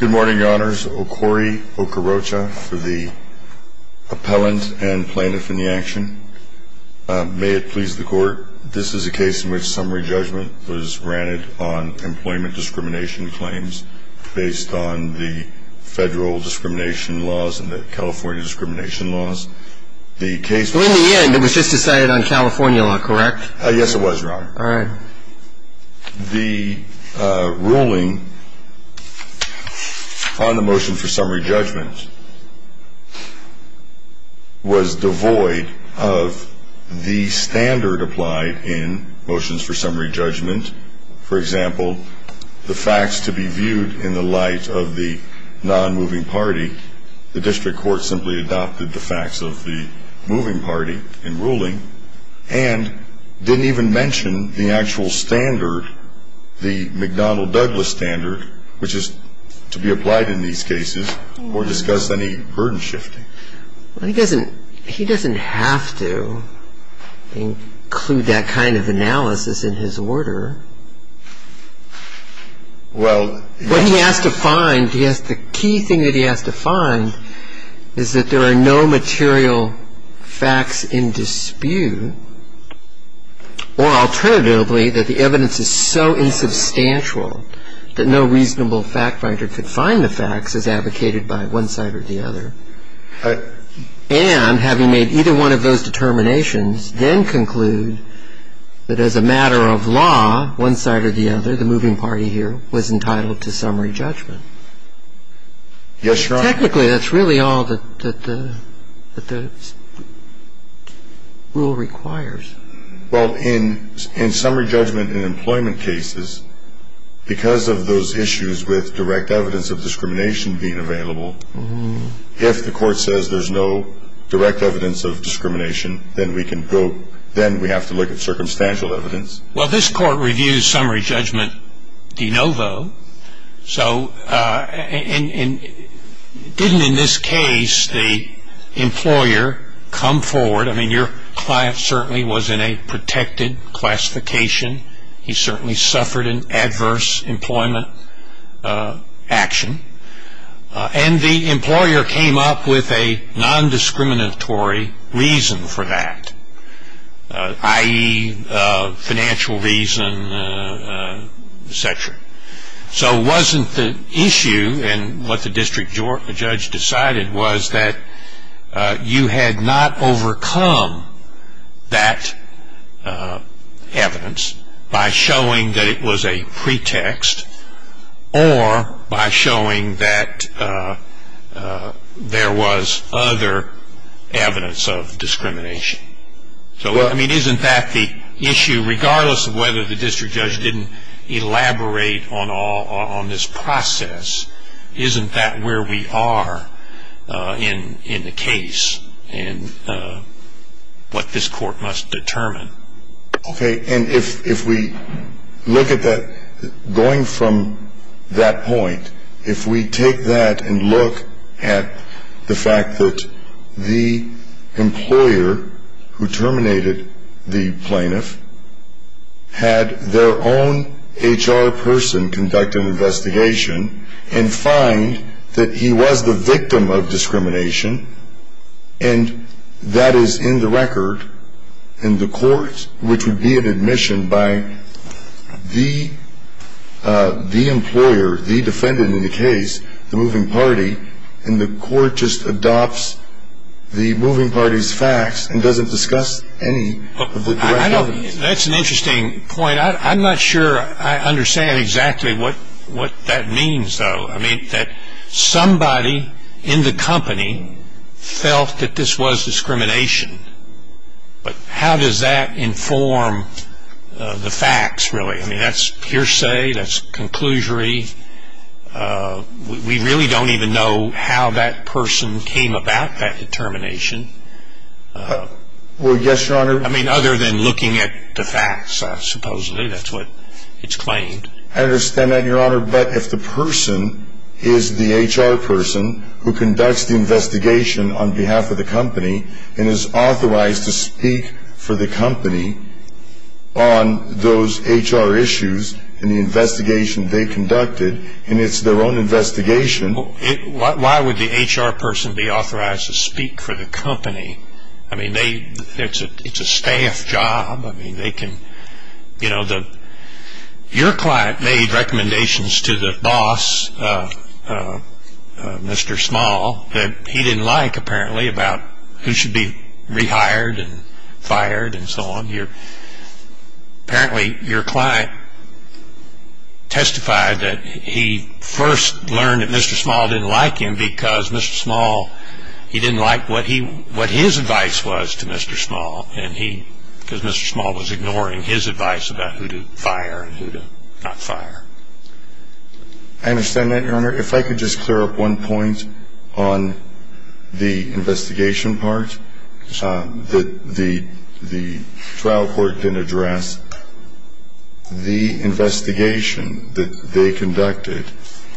Good morning, your honors. Okori Okorocha for the appellant and plaintiff in the action. May it please the court, this is a case in which summary judgment was granted on employment discrimination claims based on the federal discrimination laws and the California discrimination laws. The case- So in the end, it was just decided on California law, correct? Yes, it was, your honor. All right. The ruling on the motion for summary judgment was devoid of the standard applied in motions for summary judgment. For example, the facts to be viewed in the light of the non-moving party, the district court simply adopted the facts of the moving party in ruling and didn't even mention the actual standard, the McDonnell-Douglas standard, which is to be applied in these cases or discuss any burden shifting. He doesn't have to include that kind of analysis in his order. Well- What he has to find, the key thing that he has to find is that there are no material facts in dispute or alternatively that the evidence is so insubstantial that no reasonable fact writer could find the facts as advocated by one side or the other. And having made either one of those determinations, then conclude that as a matter of law, one side or the other, the moving party here was entitled to summary judgment. Yes, your honor. Technically, that's really all that the rule requires. Well, in summary judgment in employment cases, because of those issues with direct evidence of discrimination being available, if the court says there's no direct evidence of discrimination, then we can go, then we have to look at circumstantial evidence. Well, this court reviews summary judgment de novo. So, didn't in this case, the employer come forward? I mean, your client certainly was in a protected classification. He certainly suffered an adverse employment action. And the employer came up with a non-discriminatory reason for that, i.e., financial reason, et cetera. So, wasn't the issue in what the district judge decided was that you had not overcome that evidence by showing that it was a pretext or by showing that there was other evidence of discrimination? So, I mean, isn't that the issue, regardless of whether the district judge didn't elaborate on this process, isn't that where we are in the case and what this court must determine? Okay. And if we look at that, going from that point, if we take that and look at the fact that the employer who terminated the plaintiff had their own HR person conduct an investigation and find that he was the victim of discrimination, and that is in the record in the court, which would be an admission by the employer, the defendant in the case, the moving party, and the court just adopts the moving party's facts and doesn't discuss any of the records? That's an interesting point. I'm not sure I understand exactly what that means, though. I mean, that somebody in the company felt that this was discrimination. But how does that inform the facts, really? I mean, that's hearsay, that's conclusory. We really don't even know how that person came about that termination. Well, yes, Your Honor. I mean, other than looking at the facts, supposedly, that's what it's claimed. I understand that, Your Honor, but if the person is the HR person who conducts the investigation on behalf of the company and is authorized to speak for the company on those HR issues and the investigation they conducted, and it's their own investigation. Why would the HR person be authorized to speak for the company? I mean, it's a staff job. I mean, they can, you know, your client made recommendations to the boss, Mr. Small, that he didn't like, apparently, about who should be rehired and fired and so on. Apparently, your client testified that he first learned that Mr. Small didn't like him because Mr. Small, he didn't like what his advice was to Mr. Small. And he, because Mr. Small was ignoring his advice about who to fire and who to not fire. I understand that, Your Honor. If I could just clear up one point on the investigation part that the trial court didn't address. The investigation that they conducted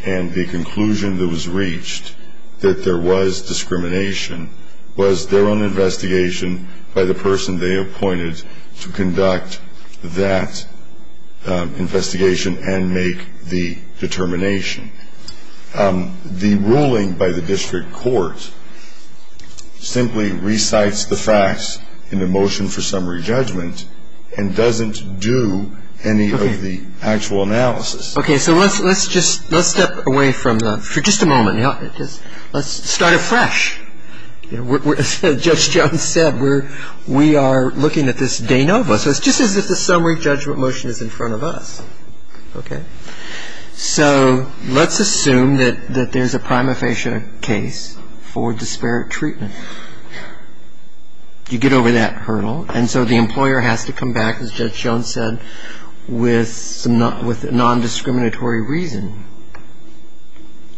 and the conclusion that was reached that there was discrimination was their own investigation by the person they appointed to conduct that investigation and make the determination. The ruling by the district court simply recites the facts in the motion for summary judgment and doesn't do any of the actual analysis. Okay, so let's just, let's step away from that for just a moment, Your Honor. Let's start afresh. As Judge Jones said, we are looking at this de novo. So it's just as if the summary judgment motion is in front of us, okay? So let's assume that there's a prima facie case for disparate treatment. You get over that hurdle and so the employer has to come back, as Judge Jones said, with non-discriminatory reason.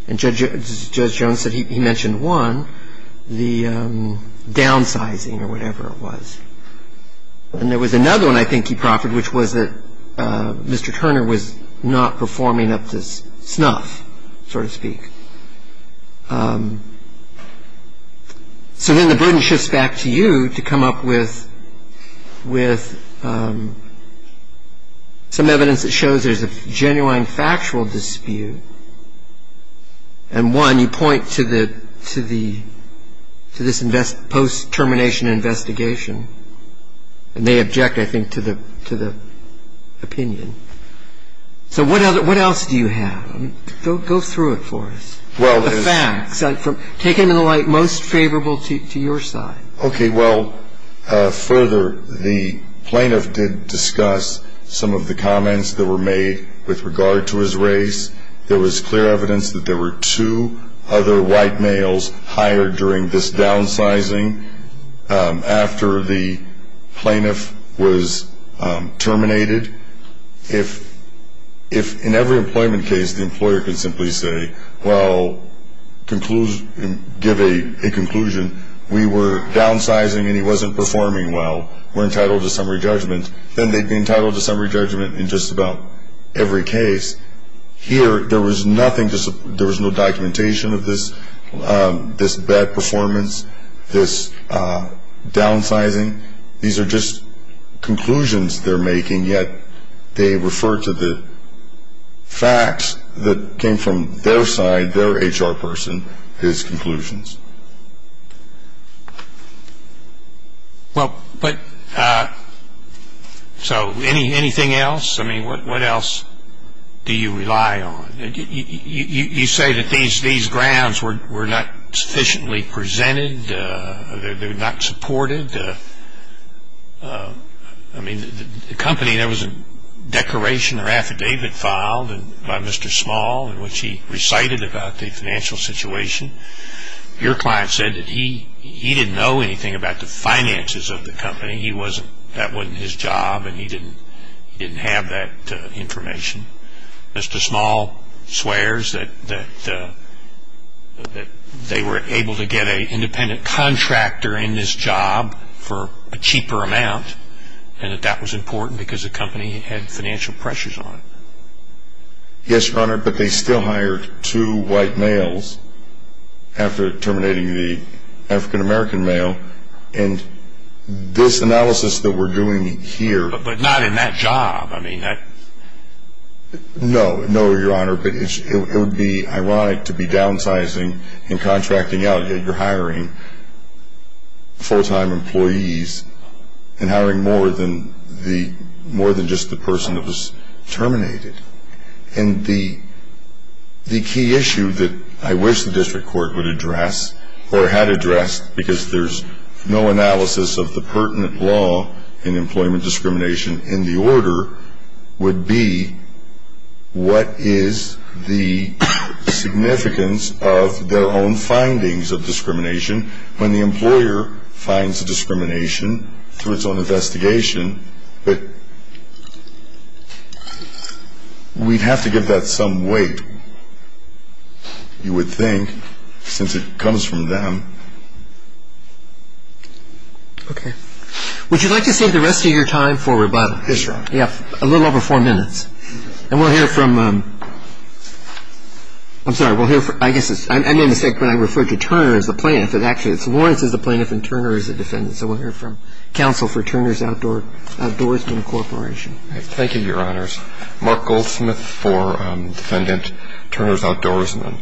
And Judge Jones said he mentioned one, the downsizing or whatever it was. And there was another one I think he proffered, which was that Mr. Turner was not performing up to snuff, so to speak. So then the burden shifts back to you to come up with some evidence that shows there's a genuine factual dispute. And one, you point to this post-termination investigation. And they object, I think, to the opinion. So what else do you have? Go through it for us, the facts. Take it in the light most favorable to your side. Okay, well, further, the plaintiff did discuss some of the comments that were made with regard to his race. There was clear evidence that there were two other white males hired during this downsizing after the plaintiff was terminated. If in every employment case, the employer could simply say, well, give a conclusion, we were downsizing and he wasn't performing well, we're entitled to summary judgment, then they'd be entitled to summary judgment in just about every case. Here, there was no documentation of this bad performance, this downsizing. These are just conclusions they're making, yet they refer to the facts that came from their side, their HR person, his conclusions. Well, but, so anything else? I mean, what else do you rely on? You say that these grounds were not sufficiently presented, they're not supported. I mean, the company, there was a declaration or affidavit filed by Mr. Small in which he recited about the financial situation. Your client said that he didn't know anything about the finances of the company. He wasn't, that wasn't his job and he didn't have that information. Mr. Small swears that they were able to get an independent contractor in this job for a cheaper amount and that that was important because the company had financial pressures on it. Yes, Your Honor, but they still hired two white males after terminating the African-American male and this analysis that we're doing here. But not in that job. I mean, that. No, no, Your Honor, but it would be ironic to be downsizing and contracting out yet you're hiring full-time employees and hiring more than the, more than just the person that was terminated. And the key issue that I wish the district court would address or had addressed because there's no analysis of the pertinent law in employment discrimination in the order would be what is the significance of their own findings of discrimination when the employer finds discrimination through its own investigation. But we'd have to give that some weight, you would think, since it comes from them. Okay. Would you like to save the rest of your time for rebuttal? Yes, Your Honor. Yeah, a little over four minutes. And we'll hear from, I'm sorry, we'll hear from, I guess it's, I made a mistake when I referred to Turner as the plaintiff. It actually, it's Lawrence as the plaintiff and Turner as the defendant. So we'll hear from counsel for Turner's Outdoorsmen Corporation. Thank you, Your Honors. Mark Goldsmith for defendant Turner's Outdoorsmen.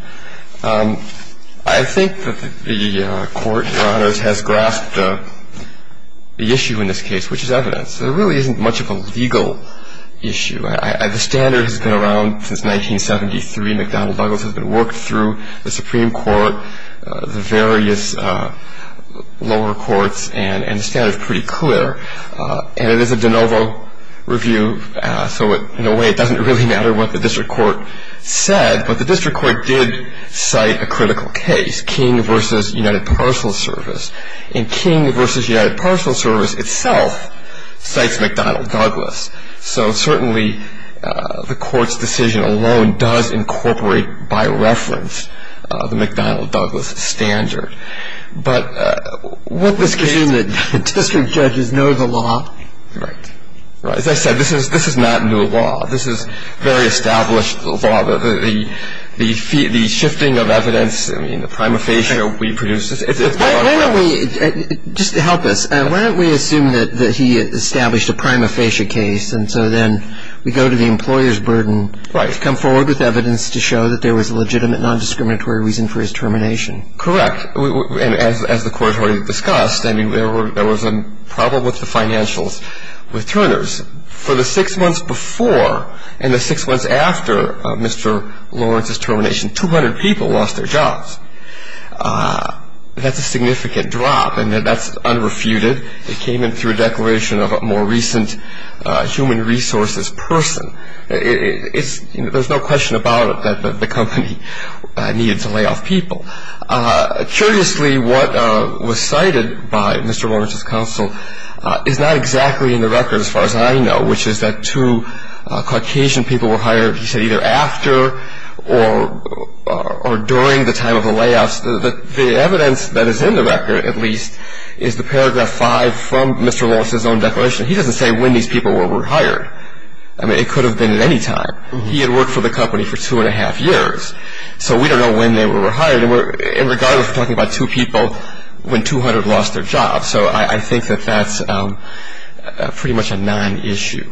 I think that the court, Your Honors, has grasped the issue in this case, which is evidence. There really isn't much of a legal issue. The standard has been around since 1973. McDonald-Buggles has been worked through. The Supreme Court, the various lower courts, and the standard's pretty clear. And it is a de novo review, so in a way it doesn't really matter what the district court said. But the district court did cite a critical case, King v. United Parcel Service. And King v. United Parcel Service itself cites McDonald-Buggles. So certainly the court's decision alone does incorporate, by reference, the McDonald-Buggles standard. But what this case- You assume that district judges know the law? Right. Right, as I said, this is not new law. This is very established law. The shifting of evidence, I mean, the prima facie we produce- Why don't we, just to help us, why don't we assume that he established a prima facie case, and so then we go to the employer's burden to come forward with evidence to show that there was a legitimate non-discriminatory reason for his termination? Correct. And as the court already discussed, I mean, there was a problem with the financials with Turner's. For the six months before and the six months after Mr. Lawrence's termination, 200 people lost their jobs. That's a significant drop, and that's unrefuted. It came in through a declaration of a more recent human resources person. There's no question about it that the company needed to lay off people. Curiously, what was cited by Mr. Lawrence's counsel is not exactly in the record, as far as I know, which is that two Caucasian people were hired, he said, either after or during the time of the layoffs. The evidence that is in the record, at least, is the paragraph five from Mr. Lawrence's own declaration. He doesn't say when these people were hired. I mean, it could have been at any time. He had worked for the company for two and a half years, so we don't know when they were hired. And we're, in regard, we're talking about two people when 200 lost their jobs. So I think that that's pretty much a non-issue.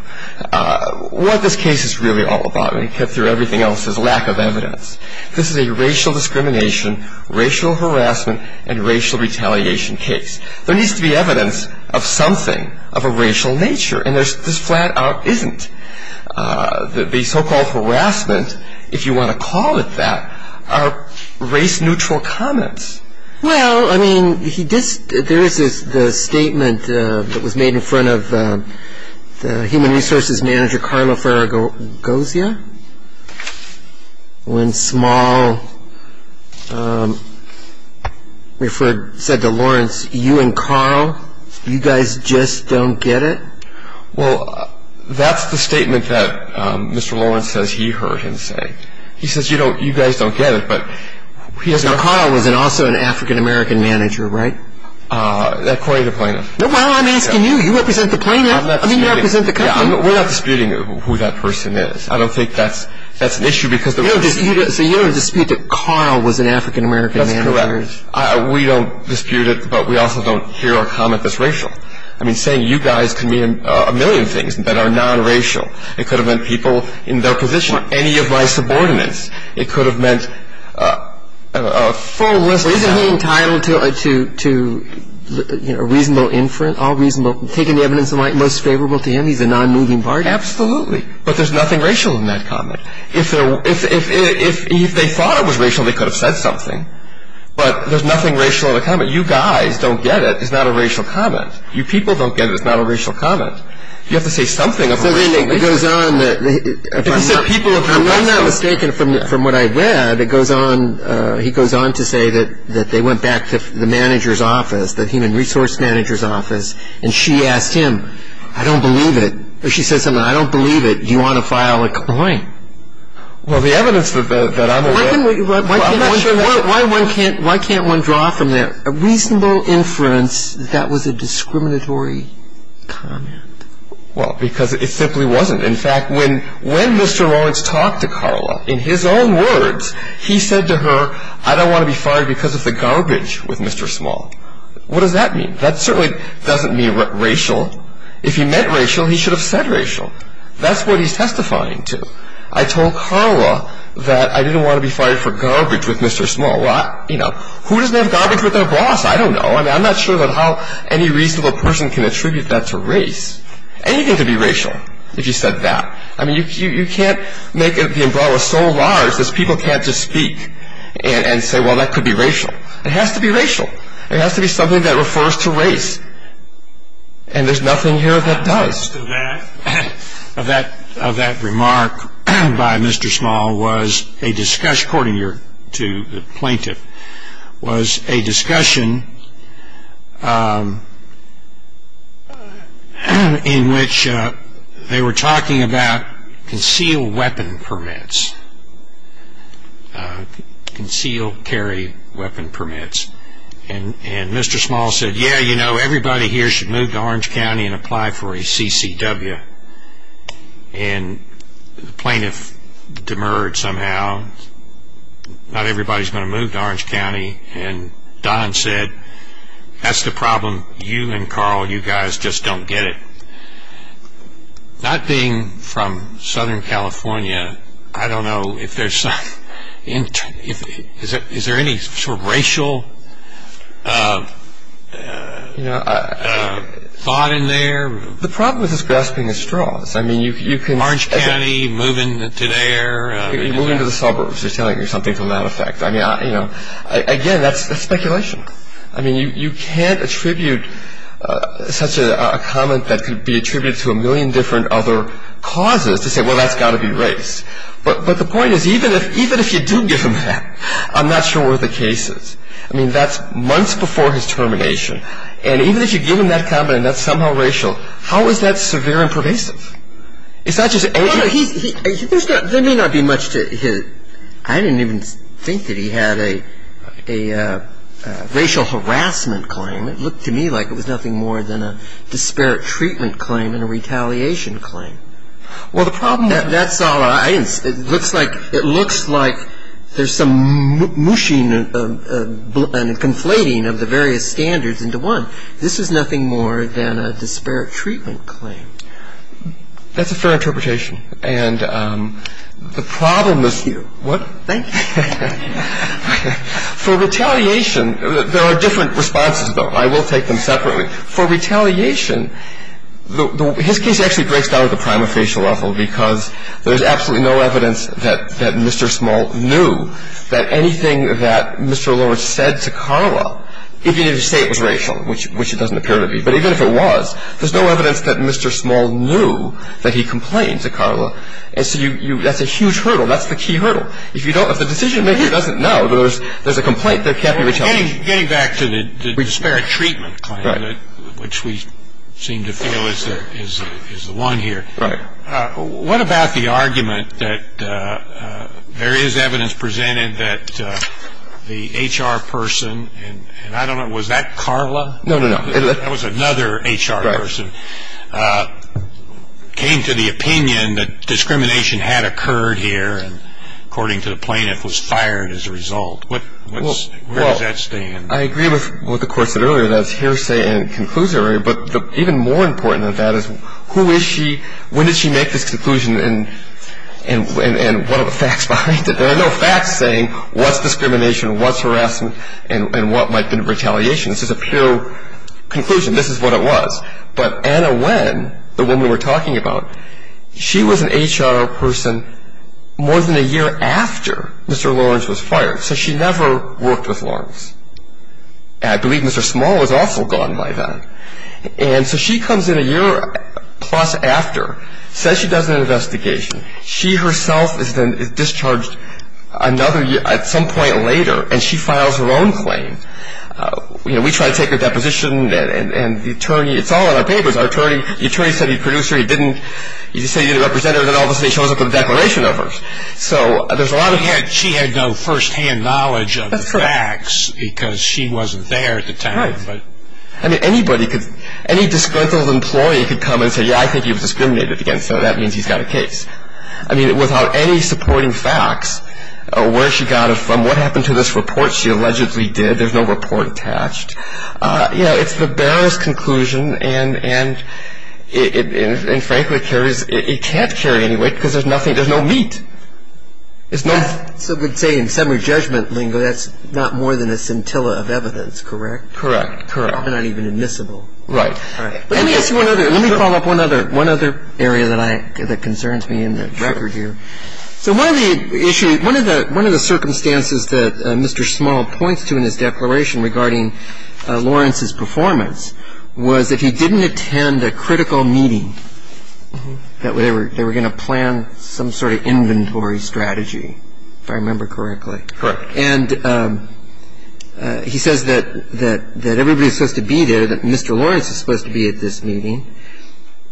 What this case is really all about, and we cut through everything else, is lack of evidence. This is a racial discrimination, racial harassment, and racial retaliation case. There needs to be evidence of something of a racial nature, and there's, this flat out isn't. The so-called harassment, if you want to call it that, are race-neutral comments. Well, I mean, there is the statement that was made in front of the human resources manager, Carla Ferragosia, when Small referred, said to Lawrence, you and Carl, you guys just don't get it. Well, that's the statement that Mr. Lawrence says he heard him say. He says, you know, you guys don't get it. Now, Carl was also an African-American manager, right? According to Plano. Well, I'm asking you. You represent the Plano. I mean, you represent the company. We're not disputing who that person is. I don't think that's an issue. So you don't dispute that Carl was an African-American manager? That's correct. We don't dispute it, but we also don't hear a comment that's racial. I mean, saying you guys can be a million things that are non-racial, it could have meant people in their position, any of my subordinates. It could have meant a full list of them. Well, isn't he entitled to a reasonable inference, all reasonable, taking the evidence that might be most favorable to him? He's a non-moving party. Absolutely, but there's nothing racial in that comment. If they thought it was racial, they could have said something, but there's nothing racial in the comment. You guys don't get it. It's not a racial comment. You people don't get it. It's not a racial comment. You have to say something of a racial nature. It goes on that if I'm not mistaken from what I read, he goes on to say that they went back to the manager's office, the human resource manager's office, and she asked him, I don't believe it. Or she said something like, I don't believe it. Do you want to file a complaint? Well, the evidence that I'm aware of, I'm not sure. Why can't one draw from that a reasonable inference that that was a discriminatory comment? Well, because it simply wasn't. In fact, when Mr. Lawrence talked to Carla in his own words, he said to her, I don't want to be fired because of the garbage with Mr. Small. What does that mean? That certainly doesn't mean racial. If he meant racial, he should have said racial. That's what he's testifying to. I told Carla that I didn't want to be fired for garbage with Mr. Small. Well, you know, who doesn't have garbage with their boss? I don't know. I'm not sure how any reasonable person can attribute that to race. Anything could be racial if you said that. I mean, you can't make the umbrella so large that people can't just speak and say, well, that could be racial. It has to be racial. It has to be something that refers to race. And there's nothing here that does. The rest of that remark by Mr. Small was a discussion, according to the plaintiff, was a discussion in which they were talking about concealed weapon permits, concealed carry weapon permits. And Mr. Small said, yeah, you know, everybody here should move to Orange County and apply for a CCW. And the plaintiff demurred somehow. Not everybody's going to move to Orange County. And Don said, that's the problem. You and Carl, you guys just don't get it. Not being from Southern California, I don't know if there's some – is there any sort of racial thought in there? The problem is just grasping at straws. I mean, you can – Orange County, moving to there. Moving to the suburbs. They're telling you something from that effect. I mean, you know, again, that's speculation. I mean, you can't attribute such a comment that could be attributed to a million different other causes to say, well, that's got to be race. But the point is, even if you do give him that, I'm not sure what the case is. I mean, that's months before his termination. And even if you give him that comment and that's somehow racial, how is that severe and pervasive? It's not just – There may not be much to his – I didn't even think that he had a racial harassment claim. It looked to me like it was nothing more than a disparate treatment claim and a retaliation claim. Well, the problem – That's all I – it looks like there's some mushing and conflating of the various standards into one. This is nothing more than a disparate treatment claim. That's a fair interpretation. And the problem is – Thank you. What? Thank you. For retaliation – there are different responses, though. I will take them separately. For retaliation, his case actually breaks down at the prima facie level because there's absolutely no evidence that Mr. Small knew that anything that Mr. Lawrence said to Carla, even if you say it was racial, which it doesn't appear to be, but even if it was, there's no evidence that Mr. Small knew that he complained to Carla. And so you – that's a huge hurdle. That's the key hurdle. If you don't – if the decision-maker doesn't know that there's a complaint, there can't be retaliation. Getting back to the disparate treatment claim, which we seem to feel is the one here. Right. What about the argument that there is evidence presented that the HR person – and I don't know, was that Carla? No, no, no. That was another HR person – came to the opinion that discrimination had occurred here, and according to the plaintiff, was fired as a result. What's – where does that stand? Well, I agree with what the Court said earlier, that it's hearsay and conclusory, but even more important than that is who is she, when did she make this conclusion, and what are the facts behind it? There are no facts saying what's discrimination, what's harassment, and what might have been retaliation. This is a pure conclusion. This is what it was. But Anna Nguyen, the woman we were talking about, she was an HR person more than a year after Mr. Lawrence was fired, so she never worked with Lawrence. And I believe Mr. Small was also gone by then. And so she comes in a year plus after, says she does an investigation. She herself is then discharged another – at some point later, and she files her own claim. You know, we try to take her deposition, and the attorney – it's all in our papers. Our attorney – the attorney said he produced her, he didn't – he said he didn't represent her, and then all of a sudden he shows up with a declaration of hers. So there's a lot of – She had no first-hand knowledge of the facts because she wasn't there at the time. Right. I mean, anybody could – any disgruntled employee could come and say, yeah, I think you've discriminated against her, that means he's got a case. I mean, without any supporting facts, where she got it from, what happened to this report she allegedly did, there's no report attached. You know, it's the barest conclusion, and frankly, it carries – it can't carry any weight because there's nothing – there's no meat. There's no – So we'd say in summary judgment lingo, that's not more than a scintilla of evidence, correct? Correct, correct. Probably not even admissible. Right. All right. Let me ask you one other – let me follow up one other – one other area that I – that concerns me in the record here. So one of the issues – one of the circumstances that Mr. Small points to in his declaration regarding Lawrence's performance was that he didn't attend a critical meeting, that they were going to plan some sort of inventory strategy, if I remember correctly. Correct. And he says that everybody was supposed to be there, that Mr. Lawrence was supposed to be at this meeting,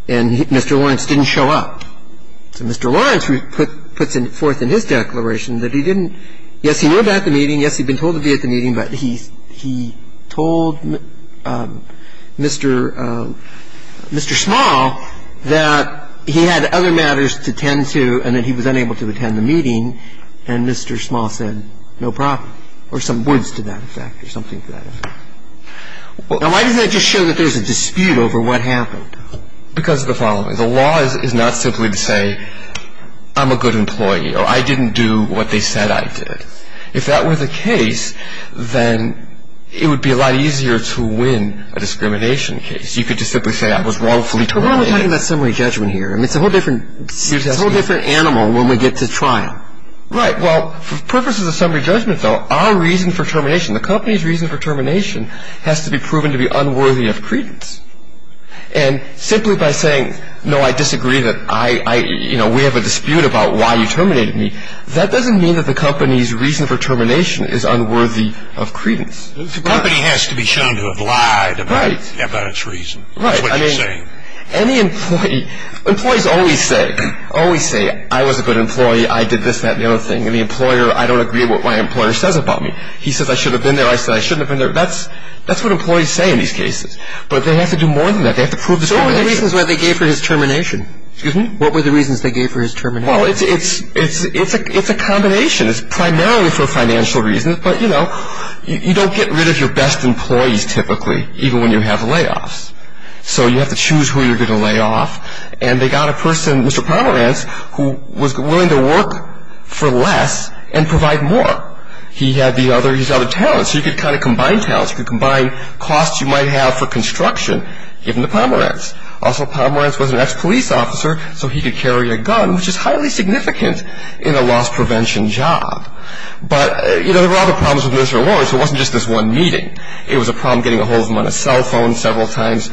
and Mr. Lawrence didn't show up. So Mr. Lawrence puts forth in his declaration that he didn't – yes, he was at the meeting, yes, he'd been told to be at the meeting, but he told Mr. – Mr. Small that he had other matters to tend to and that he was unable to attend the meeting, and Mr. Small said no problem, or some words to that effect or something to that effect. Now, why doesn't that just show that there's a dispute over what happened? Because of the following. The law is not simply to say I'm a good employee, or I didn't do what they said I did. If that were the case, then it would be a lot easier to win a discrimination case. You could just simply say I was wrongfully charged. But we're only talking about summary judgment here. I mean, it's a whole different – It's a whole different animal when we get to trial. Right. Well, for purposes of summary judgment, though, our reason for termination, the company's reason for termination has to be proven to be unworthy of credence. And simply by saying, no, I disagree, that I – you know, we have a dispute about why you terminated me, that doesn't mean that the company's reason for termination is unworthy of credence. The company has to be shown to have lied about its reason. Right. That's what you're saying. Right. I mean, any employee – employees always say, always say, I was a good employee, I did this, that, and the other thing. And the employer, I don't agree with what my employer says about me. He says I should have been there, I said I shouldn't have been there. That's what employees say in these cases. But they have to do more than that. They have to prove discrimination. So what were the reasons they gave for his termination? Excuse me? What were the reasons they gave for his termination? Well, it's – it's a combination. It's primarily for financial reasons, but, you know, you don't get rid of your best employees typically, even when you have layoffs. So you have to choose who you're going to lay off. And they got a person, Mr. Pomerantz, who was willing to work for less and provide more. He had the other – he's got other talents. So you could kind of combine talents. You could combine costs you might have for construction, given to Pomerantz. Also, Pomerantz was an ex-police officer, so he could carry a gun, which is highly significant in a loss-prevention job. But, you know, there were other problems with Mr. Lawrence. It wasn't just this one meeting. It was a problem getting a hold of him on a cell phone several times.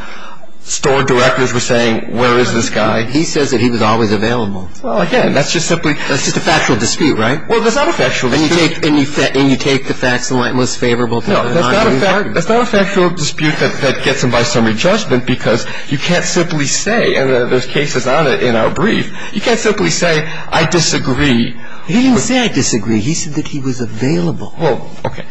Store directors were saying, where is this guy? He says that he was always available. Well, again, that's just simply – That's just a factual dispute, right? Well, that's not a factual dispute. And you take – and you take the facts and what's most favorable? No, that's not a factual dispute that gets him by summary judgment, because you can't simply say – and there's cases on it in our brief – you can't simply say, I disagree. He didn't say I disagree. He said that he was available. Well, okay.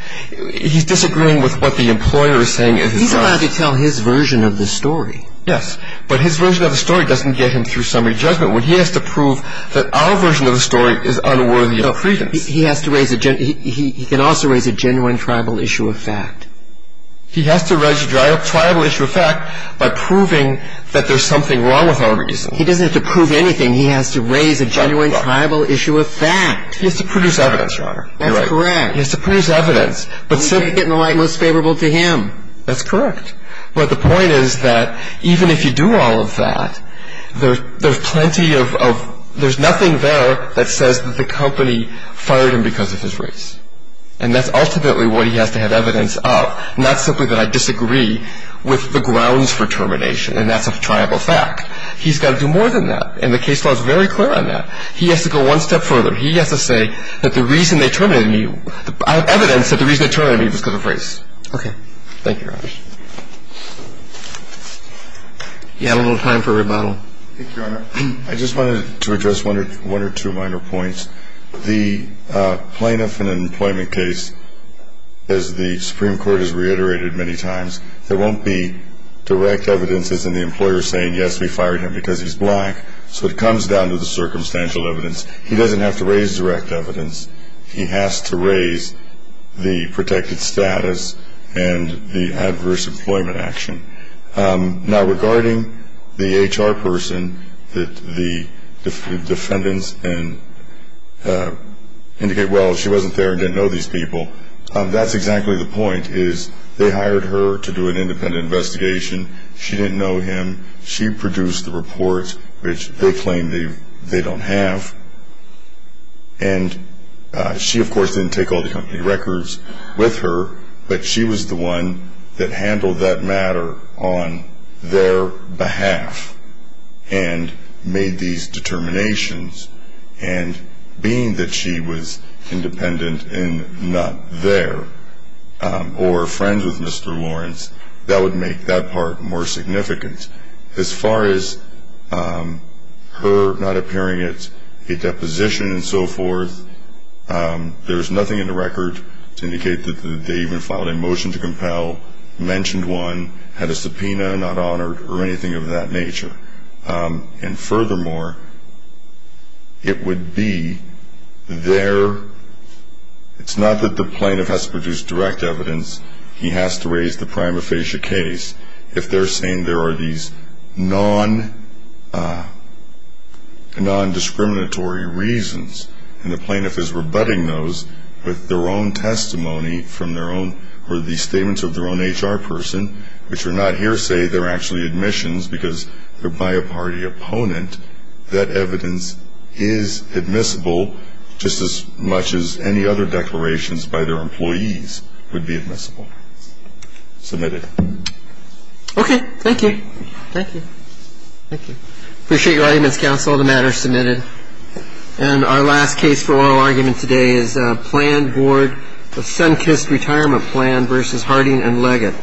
He's disagreeing with what the employer is saying in his mind. He's allowed to tell his version of the story. Yes. But his version of the story doesn't get him through summary judgment, when he has to prove that our version of the story is unworthy of credence. He has to raise a – he can also raise a genuine tribal issue of fact. He has to raise a tribal issue of fact by proving that there's something wrong with our reason. He doesn't have to prove anything. He has to raise a genuine tribal issue of fact. He has to produce evidence, Your Honor. That's correct. He has to produce evidence. But simply – We take it in the light most favorable to him. That's correct. But the point is that even if you do all of that, there's plenty of – there's nothing there that says that the company fired him because of his race. And that's ultimately what he has to have evidence of, not simply that I disagree with the grounds for termination, and that's a tribal fact. He's got to do more than that. And the case law is very clear on that. He has to go one step further. He has to say that the reason they terminated me – I have evidence that the reason they terminated me was because of race. Okay. You had a little time for rebuttal. Thank you, Your Honor. I just wanted to address one or two minor points. The plaintiff in an employment case, as the Supreme Court has reiterated many times, there won't be direct evidences in the employer saying, yes, we fired him because he's black. So it comes down to the circumstantial evidence. He doesn't have to raise direct evidence. He has to raise the protected status and the adverse employment action. Now, regarding the HR person that the defendants indicate, well, she wasn't there and didn't know these people, that's exactly the point is they hired her to do an independent investigation. She didn't know him. She produced the report, which they claim they don't have. And she, of course, didn't take all the company records with her, but she was the one that handled that matter on their behalf and made these determinations. And being that she was independent and not there or friends with Mr. Lawrence, that would make that part more significant. As far as her not appearing at a deposition and so forth, there's nothing in the record to indicate that they even filed a motion to compel, mentioned one, had a subpoena, not honored, or anything of that nature. And furthermore, it would be their – it's not that the plaintiff has to produce direct evidence. He has to raise the prima facie case. If they're saying there are these non-discriminatory reasons and the plaintiff is rebutting those with their own testimony from their own or the statements of their own HR person, which are not hearsay, they're actually admissions because they're by a party opponent, that evidence is admissible just as much as any other declarations by their employees would be admissible. Submitted. Okay. Thank you. Thank you. Thank you. Appreciate your audience counsel. The matter is submitted. And our last case for oral argument today is planned board of Sunkist Retirement Plan v. Harding and Leggett.